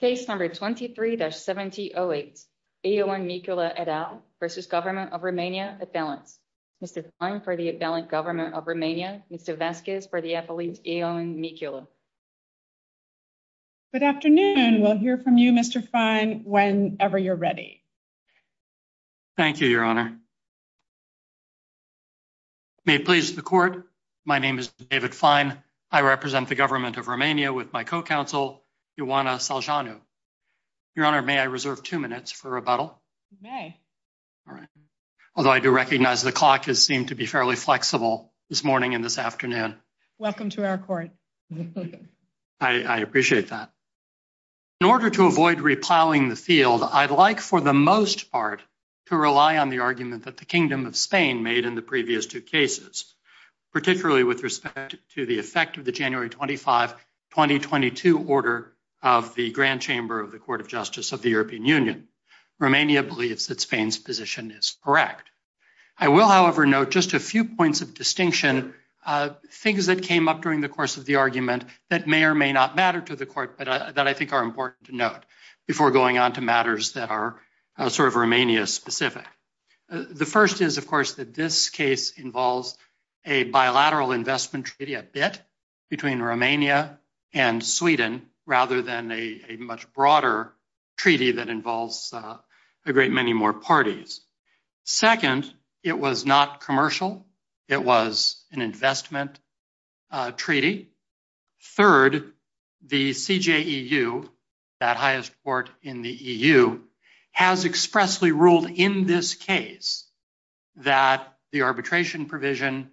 Case number 23-1708 Eoan Micula et al. v. Government of Romania, Advalence. Mr. Fine for the Advalence Government of Romania, Mr. Vasquez for the Appellate Eoan Micula. Good afternoon. We'll hear from you, Mr. Fine, whenever you're ready. Thank you, Your Honor. May it please the Court, my name is David Fine. I represent the Government of Romania with my co-counsel Ioana Seljanu. Your Honor, may I reserve two minutes for rebuttal? You may. All right. Although I do recognize the clock has seemed to be fairly flexible this morning and this afternoon. Welcome to our Court. I appreciate that. In order to avoid repiling the field, I'd like for the most part to rely on the argument that the Kingdom of Spain made in the previous two cases, particularly with respect to the effect of the January 25, 2022 order of the Grand Chamber of the Court of Justice of the European Union. Romania believes that Spain's position is correct. I will, however, note just a few points of distinction, things that came up during the course of the argument that may or may not matter to the Court, but that I think are important to note before going on to matters that are sort of important. First, I think that this case involves a bilateral investment treaty, a bit, between Romania and Sweden rather than a much broader treaty that involves a great many more parties. Second, it was not commercial. It was an investment treaty. Third, the CJEU, that highest court in the arbitration provision,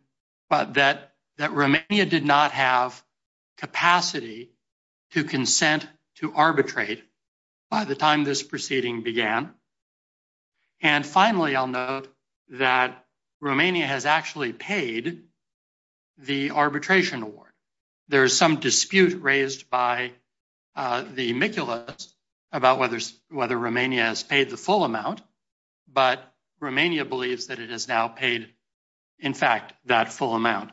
that Romania did not have capacity to consent to arbitrate by the time this proceeding began. And finally, I'll note that Romania has actually paid the arbitration award. There is some dispute raised by the amiculous about whether Romania has paid the full amount, but Romania believes that it has now paid, in fact, that full amount.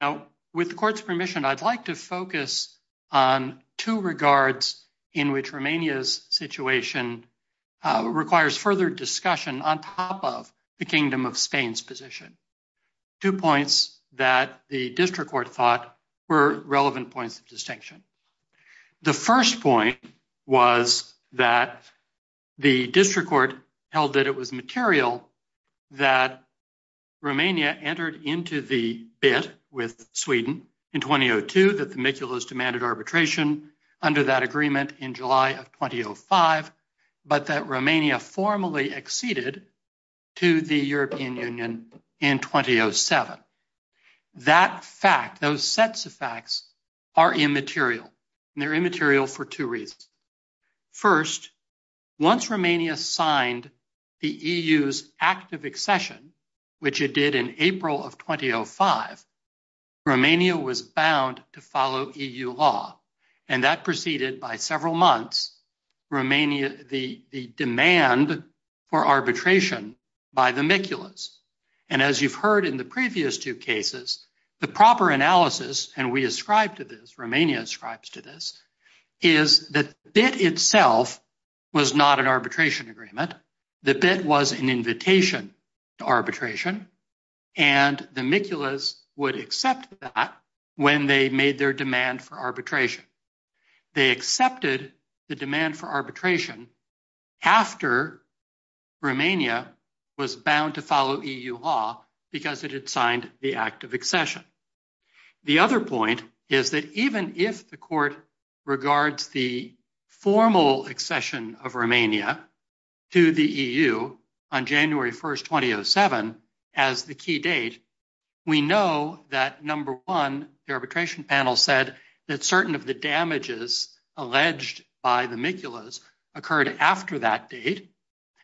Now, with the Court's permission, I'd like to focus on two regards in which Romania's situation requires further discussion on top of the Kingdom of Spain's position, two points that the district court thought were relevant points of distinction. The first point was that the district court held that it was material that Romania entered into the bit with Sweden in 2002, that the amiculous demanded arbitration under that agreement in July of 2005, but that Romania formally acceded to the European Union in 2007. That fact, those sets of facts, are immaterial, and they're immaterial for two reasons. First, once Romania signed the EU's act of accession, which it did in April of 2005, Romania was bound to follow EU law, and that preceded by several months the demand for arbitration. The second point is that the bit itself was not an arbitration agreement. The bit was an invitation to arbitration, and the amiculous would accept that when they made their demand for arbitration. They accepted the demand for arbitration after Romania was bound to follow EU law because it had signed the act of accession. The other point is that even if the court regards the formal accession of Romania to the EU on January 1st, 2007 as the key date, we know that number one, the arbitration panel said that certain of the damages alleged by the amiculous occurred after that date,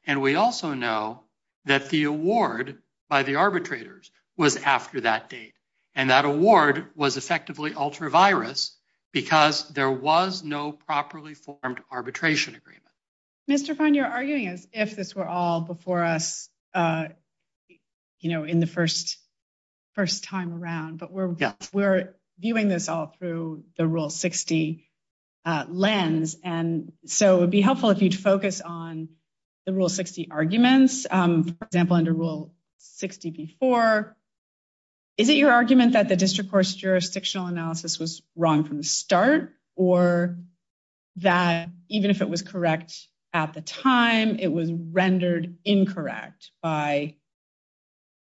and we also know that the award by the arbitrators was after that date, and that award was effectively ultra-virus because there was no properly formed arbitration agreement. Mr. Fein, you're arguing as if this were all before us, you know, in the first time around, but we're viewing this all through the lens, and so it would be helpful if you'd focus on the Rule 60 arguments. For example, under Rule 60b-4, is it your argument that the district court's jurisdictional analysis was wrong from the start, or that even if it was correct at the time, it was rendered incorrect by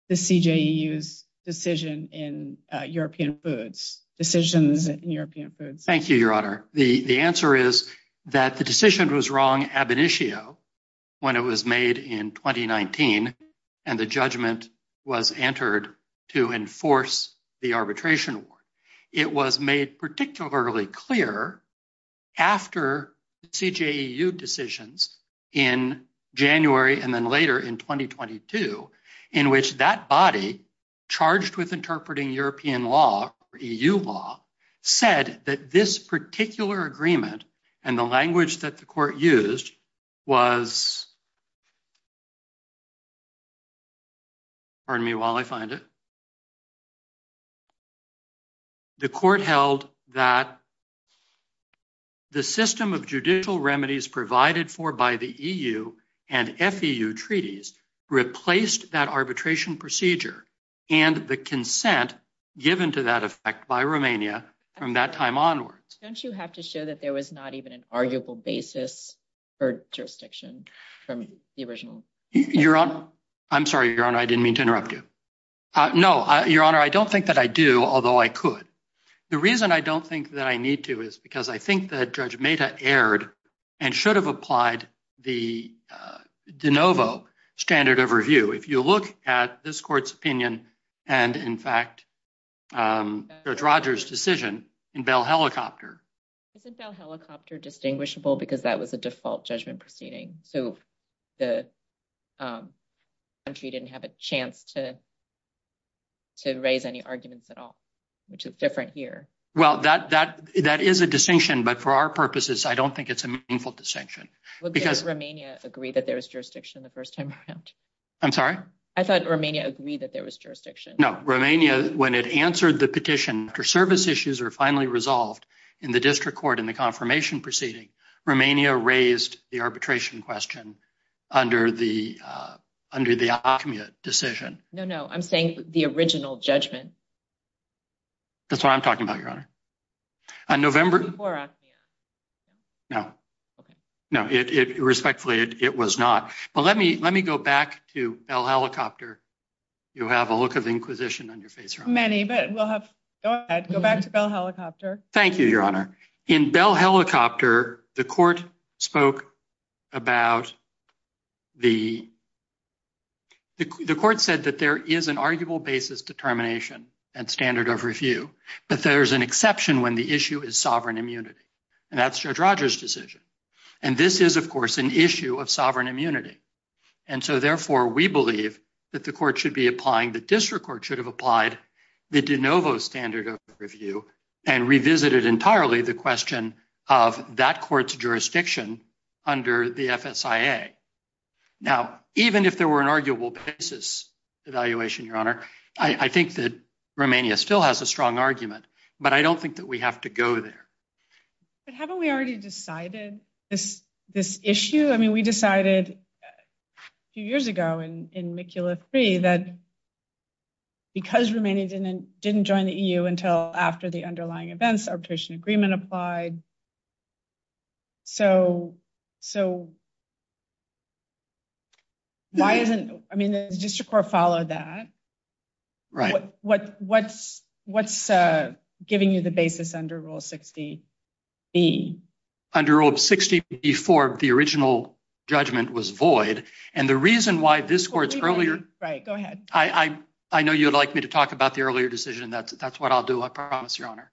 the CJEU's decision in European Foods? Thank you, Your Honor. The answer is that the decision was wrong ab initio when it was made in 2019, and the judgment was entered to enforce the arbitration award. It was made particularly clear after CJEU decisions in January and then later in 2022, in which that body charged with interpreting European law, EU law, said that this particular agreement and the language that the court used was, pardon me while I find it, the court held that the system of judicial remedies provided for by the EU and FEU treaties replaced that arbitration procedure and the consent given to that effect by Romania from that time onwards. Don't you have to show that there was not even an arguable basis for jurisdiction from the original? Your Honor, I'm sorry, Your Honor, I didn't mean to interrupt you. No, Your Honor, I don't think that I do, although I could. The reason I don't think that I need to is because I think that Judge Mehta erred and should have applied the de novo standard of review. If you look at this court's opinion and, in fact, Judge Rogers' decision in Bell Helicopter. Isn't Bell Helicopter distinguishable because that was a default judgment proceeding? So the country didn't have a chance to raise any arguments at all, which is different here. Well, that is a distinction, but for our purposes, I don't think it's a meaningful distinction. Would Romania agree that there was jurisdiction the first time around? I'm sorry? I thought Romania agreed that there was jurisdiction. No, Romania, when it answered the petition after service issues are finally resolved in the district court in the confirmation proceeding, Romania raised the arbitration question under the Acme decision. No, no, I'm saying the original judgment. That's what I'm talking about, Your Honor. On November... No. No, respectfully, it was not. But let me go back to Bell Helicopter. You'll have a look of inquisition on your face. Many, but we'll have... Go ahead, go back to Bell Helicopter. Thank you, Your Honor. In Bell Helicopter, the court spoke about the... The court said that there is an arguable basis determination and standard of review, but there's an exception when the issue is sovereign immunity. And that's Judge Rogers' decision. And this is, of course, an issue of sovereign immunity. And so, therefore, we believe that the court should be applying, the district court should have applied the de novo standard of review and revisited entirely the question of that court's jurisdiction under the FSIA. Now, even if there were an arguable basis evaluation, Your Honor, I think that Romania still has a strong argument, but I don't think that we have to go there. But haven't we already decided this issue? I mean, we decided a few years ago in didn't join the EU until after the underlying events, arbitration agreement applied. So why isn't... I mean, the district court followed that. Right. What's giving you the basis under Rule 60B? Under Rule 60B4, the original judgment was void. And the reason why this court's earlier... the earlier decision, that's what I'll do, I promise, Your Honor.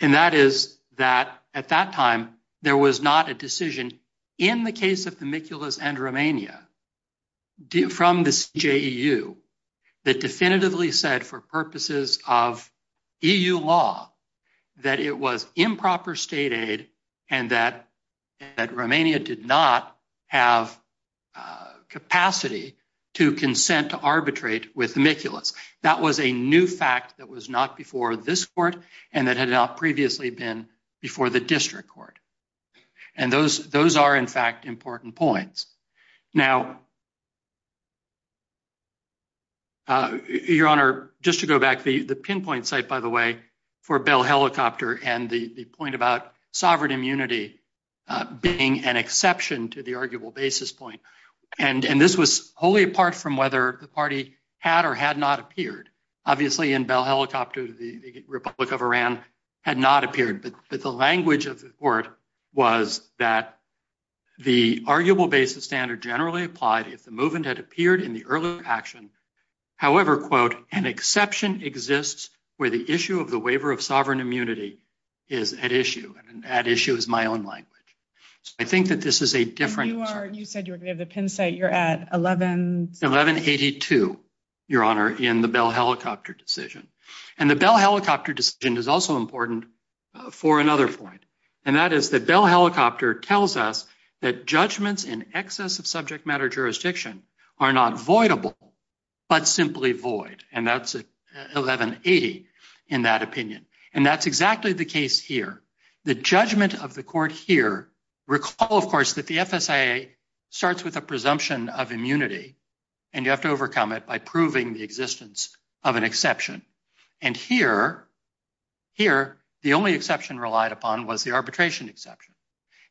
And that is that at that time, there was not a decision in the case of Themiculus and Romania from the EU that definitively said for purposes of EU law that it was improper state aid and that Romania did not have capacity to consent to arbitrate with Themiculus. That was a new fact that was not before this court and that had not previously been before the district court. And those are, in fact, important points. Now, Your Honor, just to go back, the pinpoint site, by the way, for Bell Helicopter and the point about sovereign immunity being an exception to the arguable basis point. And this was wholly apart from whether the party had or had not appeared. Obviously, in Bell Helicopter, the Republic of Iran had not appeared. But the language of the court was that the arguable basis standard generally applied if the movement had appeared in the earlier action. However, quote, an exception exists where the issue of the waiver of sovereign immunity is at issue. And at issue is my own language. So I think that this is a different... You said you were going to have the pin site. You're at 11... 1182, Your Honor, in the Bell Helicopter decision. And the Bell Helicopter decision is also important for another point. And that is that Bell Helicopter tells us that judgments in excess of subject matter jurisdiction are not voidable, but simply void. And that's 1180 in that opinion. And that's exactly the case here. The judgment of the court here, recall, of course, that the FSIA starts with a presumption of immunity and you have to overcome it by proving the existence of an exception. And here, the only exception relied upon was the arbitration exception.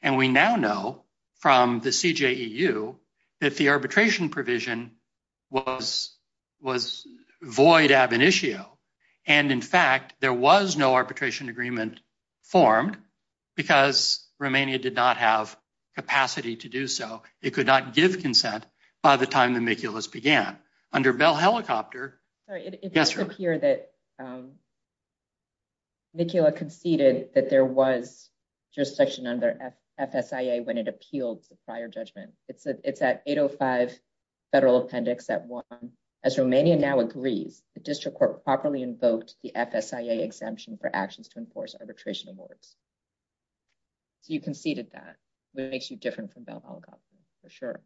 And we now know from the CJEU that the arbitration provision was void ab initio. And in fact, there was no arbitration agreement formed because Romania did not have capacity to do so. It could not give consent by the time the Mikulas began. Under Bell Helicopter... Sorry, it does appear that Mikula conceded that there was jurisdiction under FSIA when it appealed the prior judgment. It's at 805 Federal Appendix at 1. As Romania now agrees, the district court properly invoked the FSIA exemption for actions to enforce arbitration awards. So you conceded that, which makes you different from Bell Helicopter, for sure.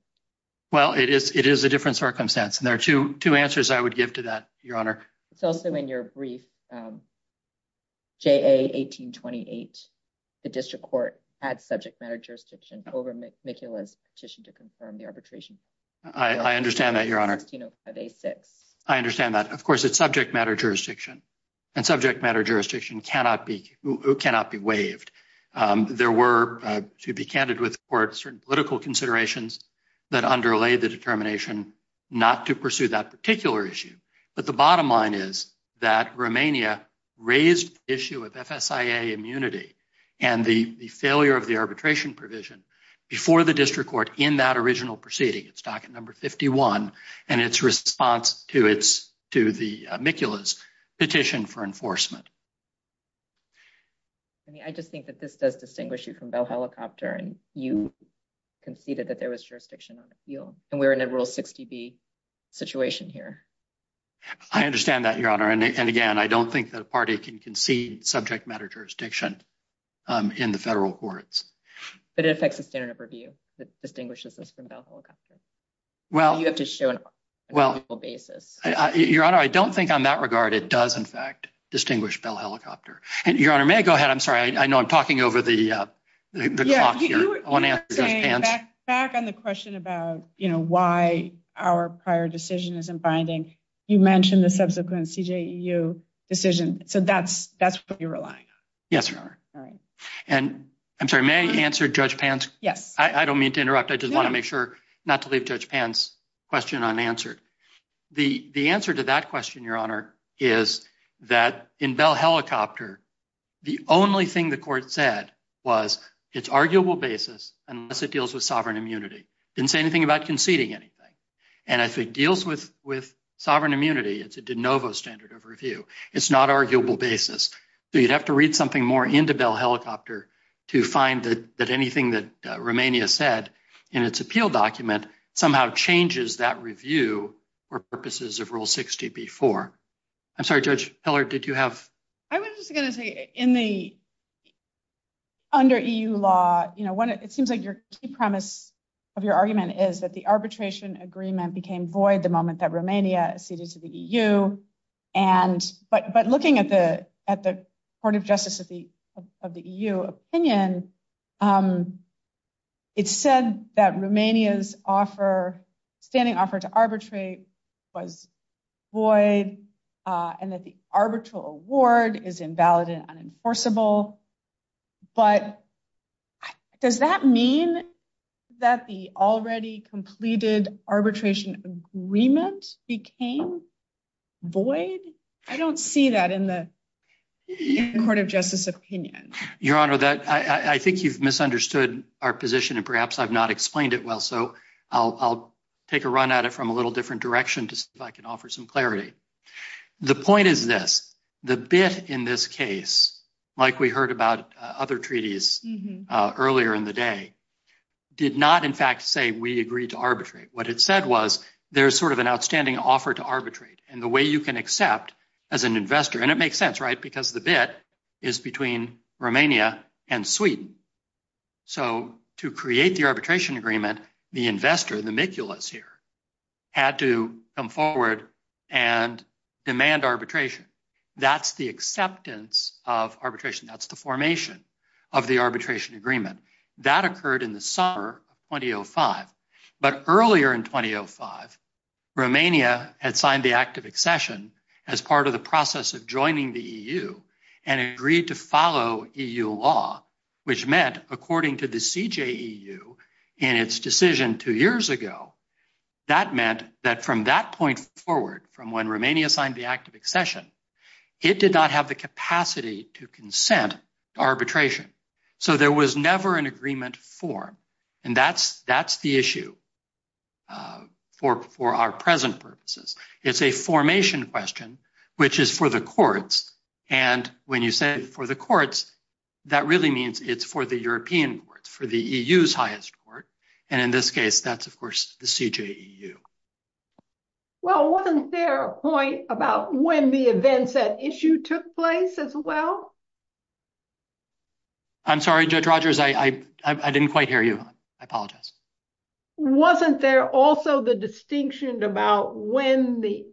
Well, it is a different circumstance. And there are two answers I would give to that, Your Honor. It's also in your brief. JA 1828, the district court had subject matter jurisdiction over Mikula's petition to confirm the arbitration. I understand that, Your Honor. I understand that. Of course, it's subject matter jurisdiction. And subject matter jurisdiction cannot be waived. There were, to be candid with the court, certain political considerations that underlay the determination not to pursue that particular issue. But the bottom line is that Romania raised the issue of FSIA immunity and the failure of the arbitration provision before the district court in that original proceeding, its docket number 51, and its response to the Mikula's petition for enforcement. I just think that this does distinguish you from Bell Helicopter. And you conceded that there was jurisdiction on appeal. And we're in a Rule 60B situation here. I understand that, Your Honor. And again, I don't think that a party can concede subject matter jurisdiction in the federal courts. But it affects the standard of review that distinguishes us from Bell Helicopter. You have to show an arguable basis. Your Honor, I don't think on that regard it does, in fact, distinguish Bell Helicopter. Your Honor, may I go ahead? I'm sorry. I know I'm talking over the clock here. Back on the question about why our prior decision isn't binding, you mentioned the subsequent CJEU decision. So that's what you're relying on. Yes, Your Honor. And I'm sorry, may I answer Judge Pant? Yes. I don't mean to interrupt. I just want to make sure not to leave Judge Pant's question unanswered. The answer to that question, Your Honor, is that in Bell Helicopter, the only thing the court said was its arguable basis unless it deals with sovereign immunity. Didn't say anything about conceding anything. And if it deals with non-arguable basis, you'd have to read something more into Bell Helicopter to find that anything that Romania said in its appeal document somehow changes that review for purposes of Rule 60b-4. I'm sorry, Judge Heller, did you have? I was just going to say, under EU law, it seems like your key premise of your argument is that the arbitration agreement became void the looking at the Court of Justice of the EU opinion, it said that Romania's standing offer to arbitrate was void and that the arbitral award is invalid and unenforceable. But does that mean that the already completed arbitration agreement became void? I don't see that in the Court of Justice opinion. Your Honor, I think you've misunderstood our position and perhaps I've not explained it well, so I'll take a run at it from a little different direction just if I can offer some clarity. The point is this, the bit in this case, like we heard about other days, did not in fact say we agreed to arbitrate. What it said was there's sort of an outstanding offer to arbitrate and the way you can accept as an investor, and it makes sense, right, because the bit is between Romania and Sweden. So to create the arbitration agreement, the investor, the miculous here, had to come forward and demand arbitration. That's the formation of the arbitration agreement. That occurred in the summer of 2005. But earlier in 2005, Romania had signed the Act of Accession as part of the process of joining the EU and agreed to follow EU law, which meant, according to the CJEU in its decision two years ago, that meant that from that point forward, from when Romania signed the Act of Accession, it did not have the arbitration. So there was never an agreement for, and that's the issue for our present purposes. It's a formation question, which is for the courts, and when you say for the courts, that really means it's for the European courts, for the EU's highest court, and in this case, that's of course the CJEU. Well, wasn't there a point about when the events at issue took place as well? I'm sorry, Judge Rogers, I didn't quite hear you. I apologize. Wasn't there also the distinction about when the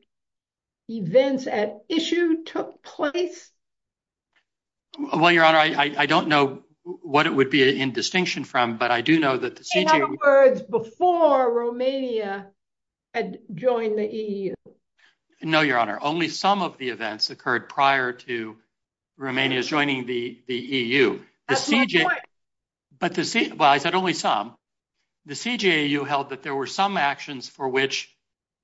events at issue took place? Well, Your Honor, I don't know what it would be in distinction from, but I do know that the CJEU- In other words, before Romania had joined the EU. No, Your Honor. Only some of the events occurred prior to Romania's joining the EU. But the- Well, I said only some. The CJEU held that there were some actions for which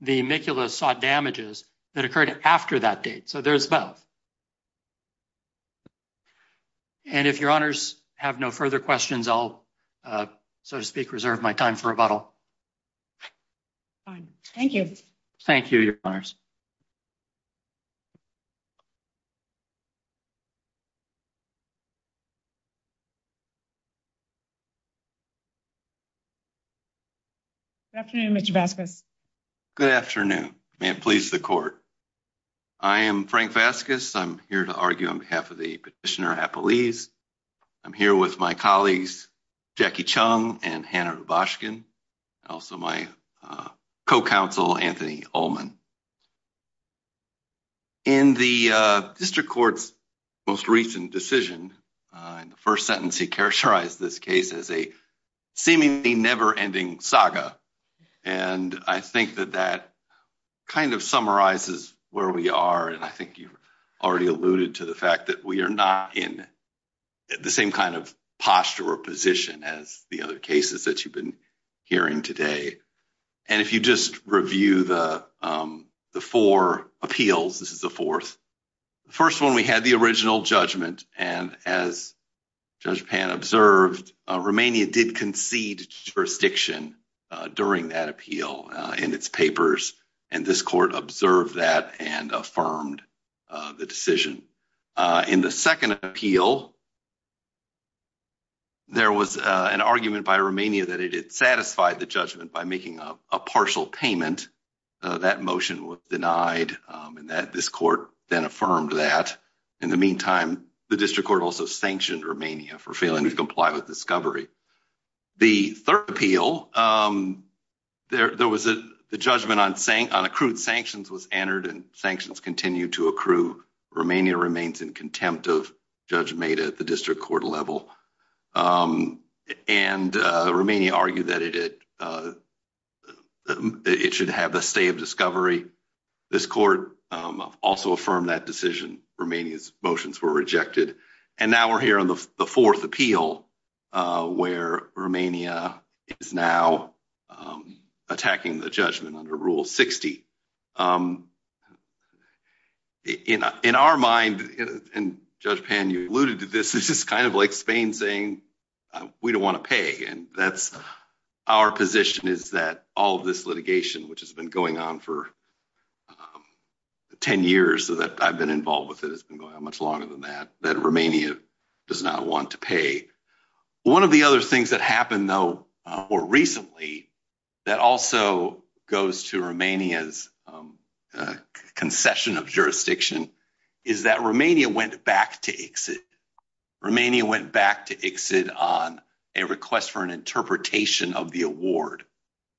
the amiculous sought damages that occurred after that date. So there's both. And if Your Honors have no further questions, I'll, so to speak, reserve my time for rebuttal. Fine. Thank you. Thank you, Your Honors. Good afternoon, Mr. Vasquez. Good afternoon. May it please the court. I am Frank Vasquez. I'm here to argue on behalf of the Petitioner Appellees. I'm here with my colleagues, Jackie Chung and Hannah Rubashkin, and also my co-counsel, Anthony Ullman. In the district court's most recent decision, in the first sentence, he characterized this case as a seemingly never-ending saga. And I think that that kind of summarizes where we are. And I think you've already alluded to the fact that we are not in the same kind of posture or position as the other cases that you've been hearing today. And if you just review the four appeals, this is the fourth. The first one, we had the original judgment. And as Judge Pan observed, Romania did concede jurisdiction during that appeal in its papers. And this court observed that and affirmed the decision. In the second appeal, there was an argument by Romania that it had satisfied the judgment by making a partial payment. That motion was denied, and this court then affirmed that. In the meantime, the district court also sanctioned Romania for failing to comply with discovery. The third appeal, there was a judgment on accrued sanctions was entered, and sanctions continue to accrue. Romania remains in contempt of Judge Maida at the district court level. And Romania argued that it should have a stay of discovery. This court also affirmed that decision. Romania's motions were rejected. And now we're here on the fourth appeal, where Romania is now attacking the judgment under Rule 60. In our mind, and Judge Pan, you alluded to this, this is kind of like Spain saying, we don't want to pay. And that's our position is that all of this litigation, which has been going on for 10 years, so that I've been involved with it, it's been going on much longer than that, that Romania does not want to pay. One of the other things that happened, though, more recently, that also goes to Romania's concession of jurisdiction, is that Romania went back to ICSID. Romania went back to ICSID on a request for an interpretation of the award.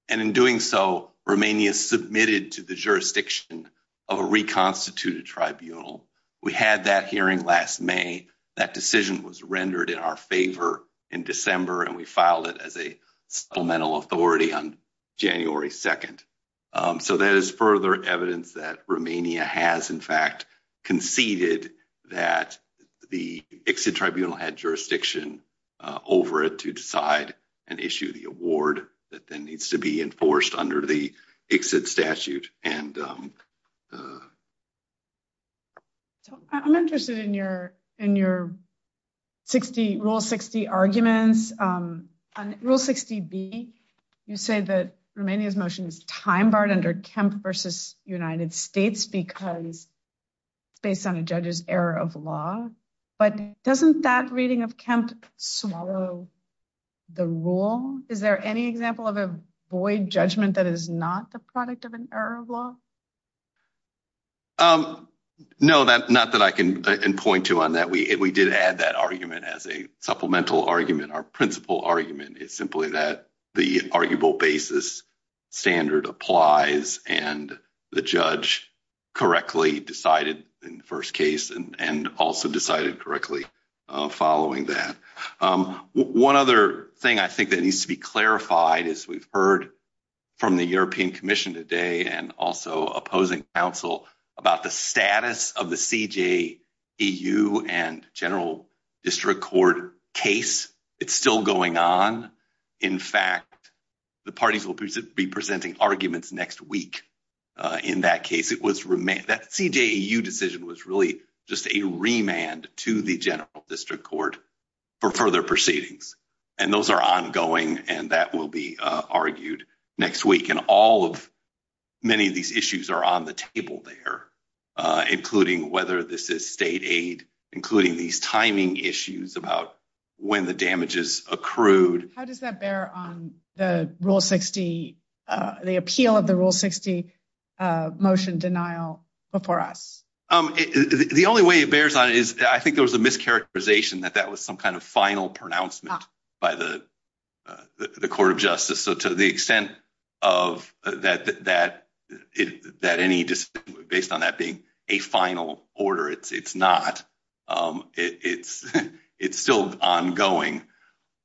And in doing so, Romania submitted to the jurisdiction of a reconstituted tribunal. We had that hearing last May. That decision was rendered in our favor in December, and we filed it as a supplemental authority on January 2nd. So there is further evidence that Romania has, in fact, conceded that the ICSID tribunal had jurisdiction over it to decide and issue the award that then needs to be enforced under the ICSID statute. I'm interested in your Rule 60 arguments. On Rule 60B, you say that Romania's motion is time-barred under Kemp v. United States because it's based on a judge's error of law. But doesn't that reading of Kemp swallow the rule? Is there any example of a void judgment that is not the product of an error of law? No, not that I can point to on that. We did add that argument as a supplemental argument. Our principal argument is simply that the arguable basis standard applies and the judge correctly decided in the first case and also decided correctly following that. One other thing I think that needs to be clarified is we've heard from the European Commission today and also opposing counsel about the status of the CJEU and General District Court case. It's still going on. In fact, the parties will be presenting arguments next week in that case. That CJEU decision was really just a remand to the General District Court for further proceedings. And those are ongoing and that will be argued next week. And all of many of these issues are on the table there, including whether this is state aid, including these timing issues about when the damages accrued. How does that bear on the appeal of the Rule 60 motion denial before us? The only way it bears on it is I think there was a mischaracterization that that was some kind of final pronouncement by the Court of Justice. So to the extent of that any based on that being a final order, it's not. It's still ongoing.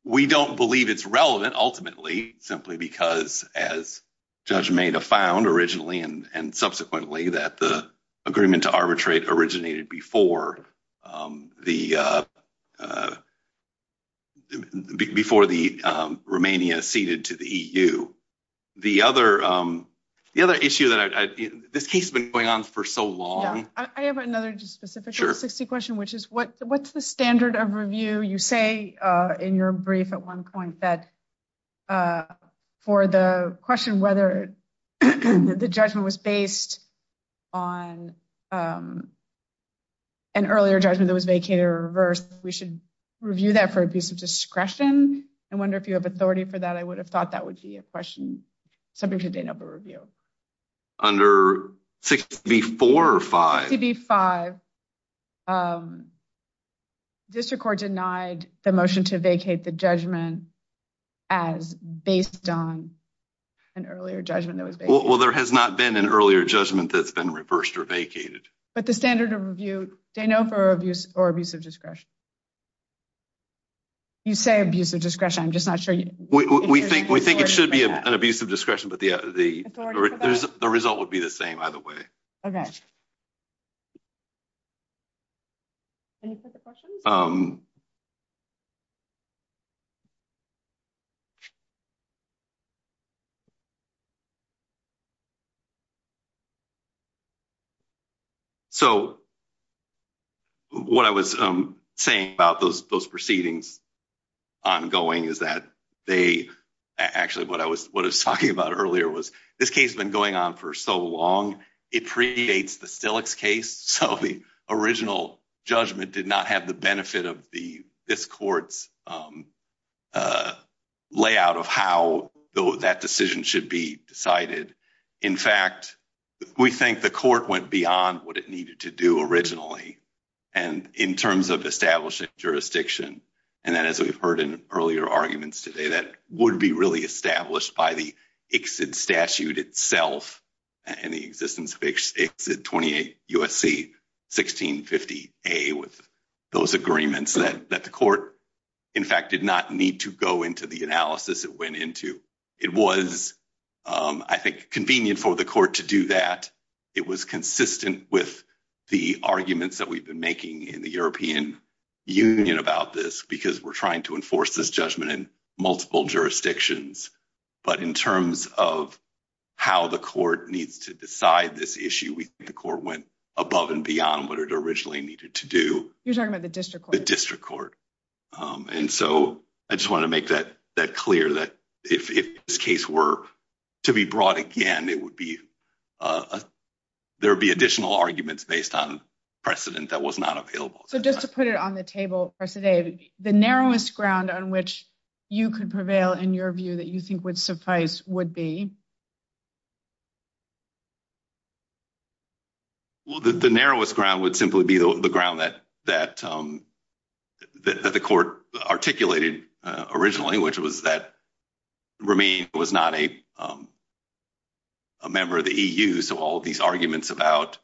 We don't believe it's relevant ultimately simply because, as Judge Maida found originally and subsequently, that the agreement to arbitrate originated before the Romania ceded to the EU. The other issue that this case has been going on for so long... I have another just specific Rule 60 question, which is what's the standard of review? You say in your brief at one point that for the question whether the judgment was based on an earlier judgment that was vacated or reversed, we should review that for abuse of discretion. I wonder if you have authority for that. I would have thought that would be a question subject to de novo review. Under 64 or 65, District Court denied the motion to vacate the judgment as based on an earlier judgment. Well, there has not been an earlier judgment that's been reversed or vacated. But the standard of review, de novo or abuse of discretion? You say abuse of discretion. I'm just not sure. We think it should be an abuse of discretion, but the result would be the same either way. So what I was saying about those proceedings ongoing is that they... Actually, what I was talking about earlier was this case has been going on for so long, it predates the Stilix case. So the original judgment did not have the benefit of this court's layout of how that decision should be decided. In fact, we think the court went beyond what needed to do originally in terms of establishing jurisdiction. And as we've heard in earlier arguments today, that would be really established by the ICSID statute itself and the existence of ICSID 28 U.S.C. 1650A with those agreements that the court, in fact, did not need to go into the analysis it went into. It was, I think, convenient for the court to do that. It was consistent with the arguments that we've been making in the European Union about this because we're trying to enforce this judgment in multiple jurisdictions. But in terms of how the court needs to decide this issue, we think the court went above and beyond what it originally needed to do. You're talking about the district court? The district court. And so I just want to make that clear that if this case were to be brought again, there would be additional arguments based on precedent that was not available. So just to put it on the table, Professor Dave, the narrowest ground on which you could prevail in your view that you think would suffice would be? Well, the narrowest ground would simply be the ground that the court articulated originally, which was that Romain was not a member of the EU. So all these arguments about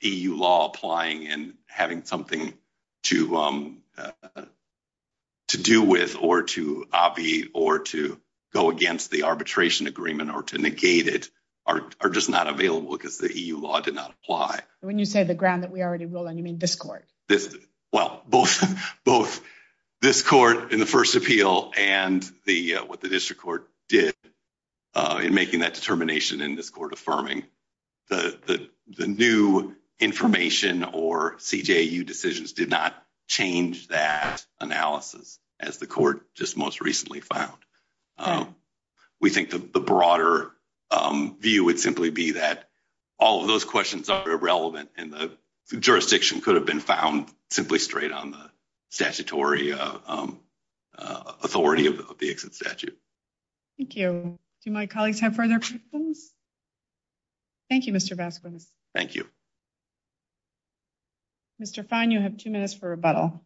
EU law applying and having something to do with or to obviate or to go against the arbitration agreement or to negate it are just not available because the EU law did not apply. When you say the ground that we already rule on, you mean this court? Well, both this court in the first appeal and what the district court did in making that determination in this court affirming the new information or CJAU decisions did not change that analysis, as the court just most recently found. We think the broader view would simply be that all of those questions are irrelevant and the jurisdiction could have been found simply straight on the statutory authority of the exit statute. Thank you. Do my colleagues have further questions? Thank you, Mr. Vasquez. Thank you. Mr. Fine, you have two minutes for rebuttal.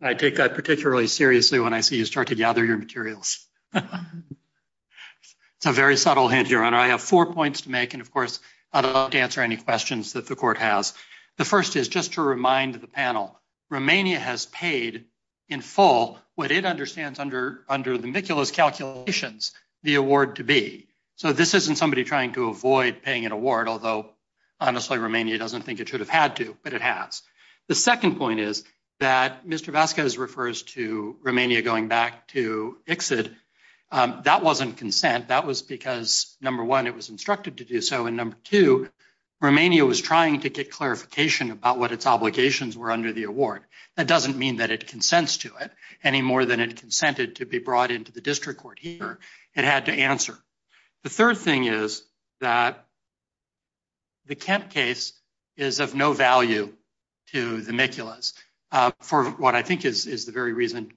I take that particularly seriously when I see you start to gather your materials. It's a very subtle hint, Your Honor. I have four points to make and, of course, I'd love to answer any questions that the court has. The first is just to remind the panel, Romania has paid in full what it understands under the Mikula's calculations the award to be. So this isn't somebody trying to avoid paying an award, although honestly, Romania doesn't think it should have had to, but it has. The second point is that Mr. Vasquez refers to ICSID. That wasn't consent. That was because, number one, it was instructed to do so, and number two, Romania was trying to get clarification about what its obligations were under the award. That doesn't mean that it consents to it any more than it consented to be brought into the district court here. It had to answer. The third thing is that the Kent case is of no value to the Mikulas for what I think is the very reason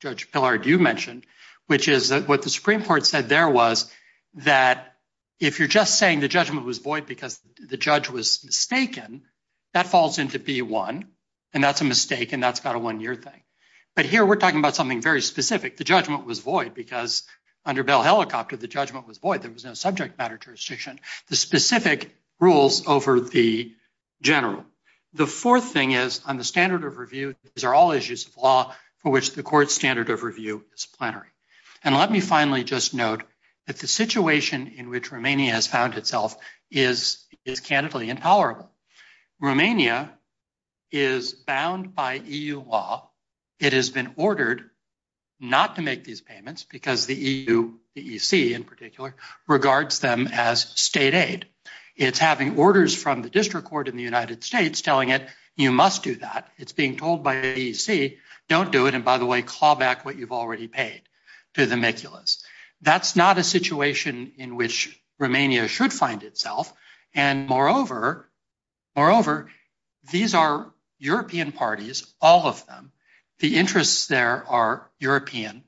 Judge Pillard, you mentioned, which is what the Supreme Court said there was that if you're just saying the judgment was void because the judge was mistaken, that falls into B1, and that's a mistake, and that's got a one-year thing. But here we're talking about something very specific. The judgment was void because under Bell Helicopter, the judgment was void. There was no subject matter jurisdiction. The specific rules over the general. The fourth thing is on the standard of review, these are all issues of law for which the court's standard of review is plenary. And let me finally just note that the situation in which Romania has found itself is candidly intolerable. Romania is bound by EU law. It has been ordered not to make these payments because the EU, the EC in particular, regards them as state aid. It's having orders from the district court in the United States telling it, you must do that. It's being told by the EC, don't do it, and by the way, call back what you've already paid to the Miculas. That's not a situation in which Romania should find itself. And moreover, these are European parties, all of them. The interests there are European.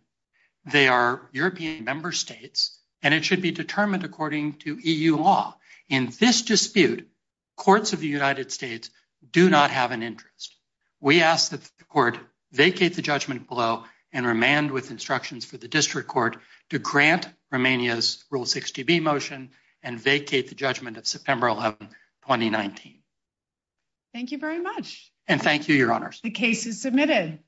They are European member states, and it should be determined according to EU law. In this dispute, courts of the United States do not have an interest. We ask that the court vacate the judgment below and remand with instructions for the district court to grant Romania's Rule 60B motion and vacate the judgment of September 11, 2019. Thank you very much. And thank you, Your Honors. The case is submitted.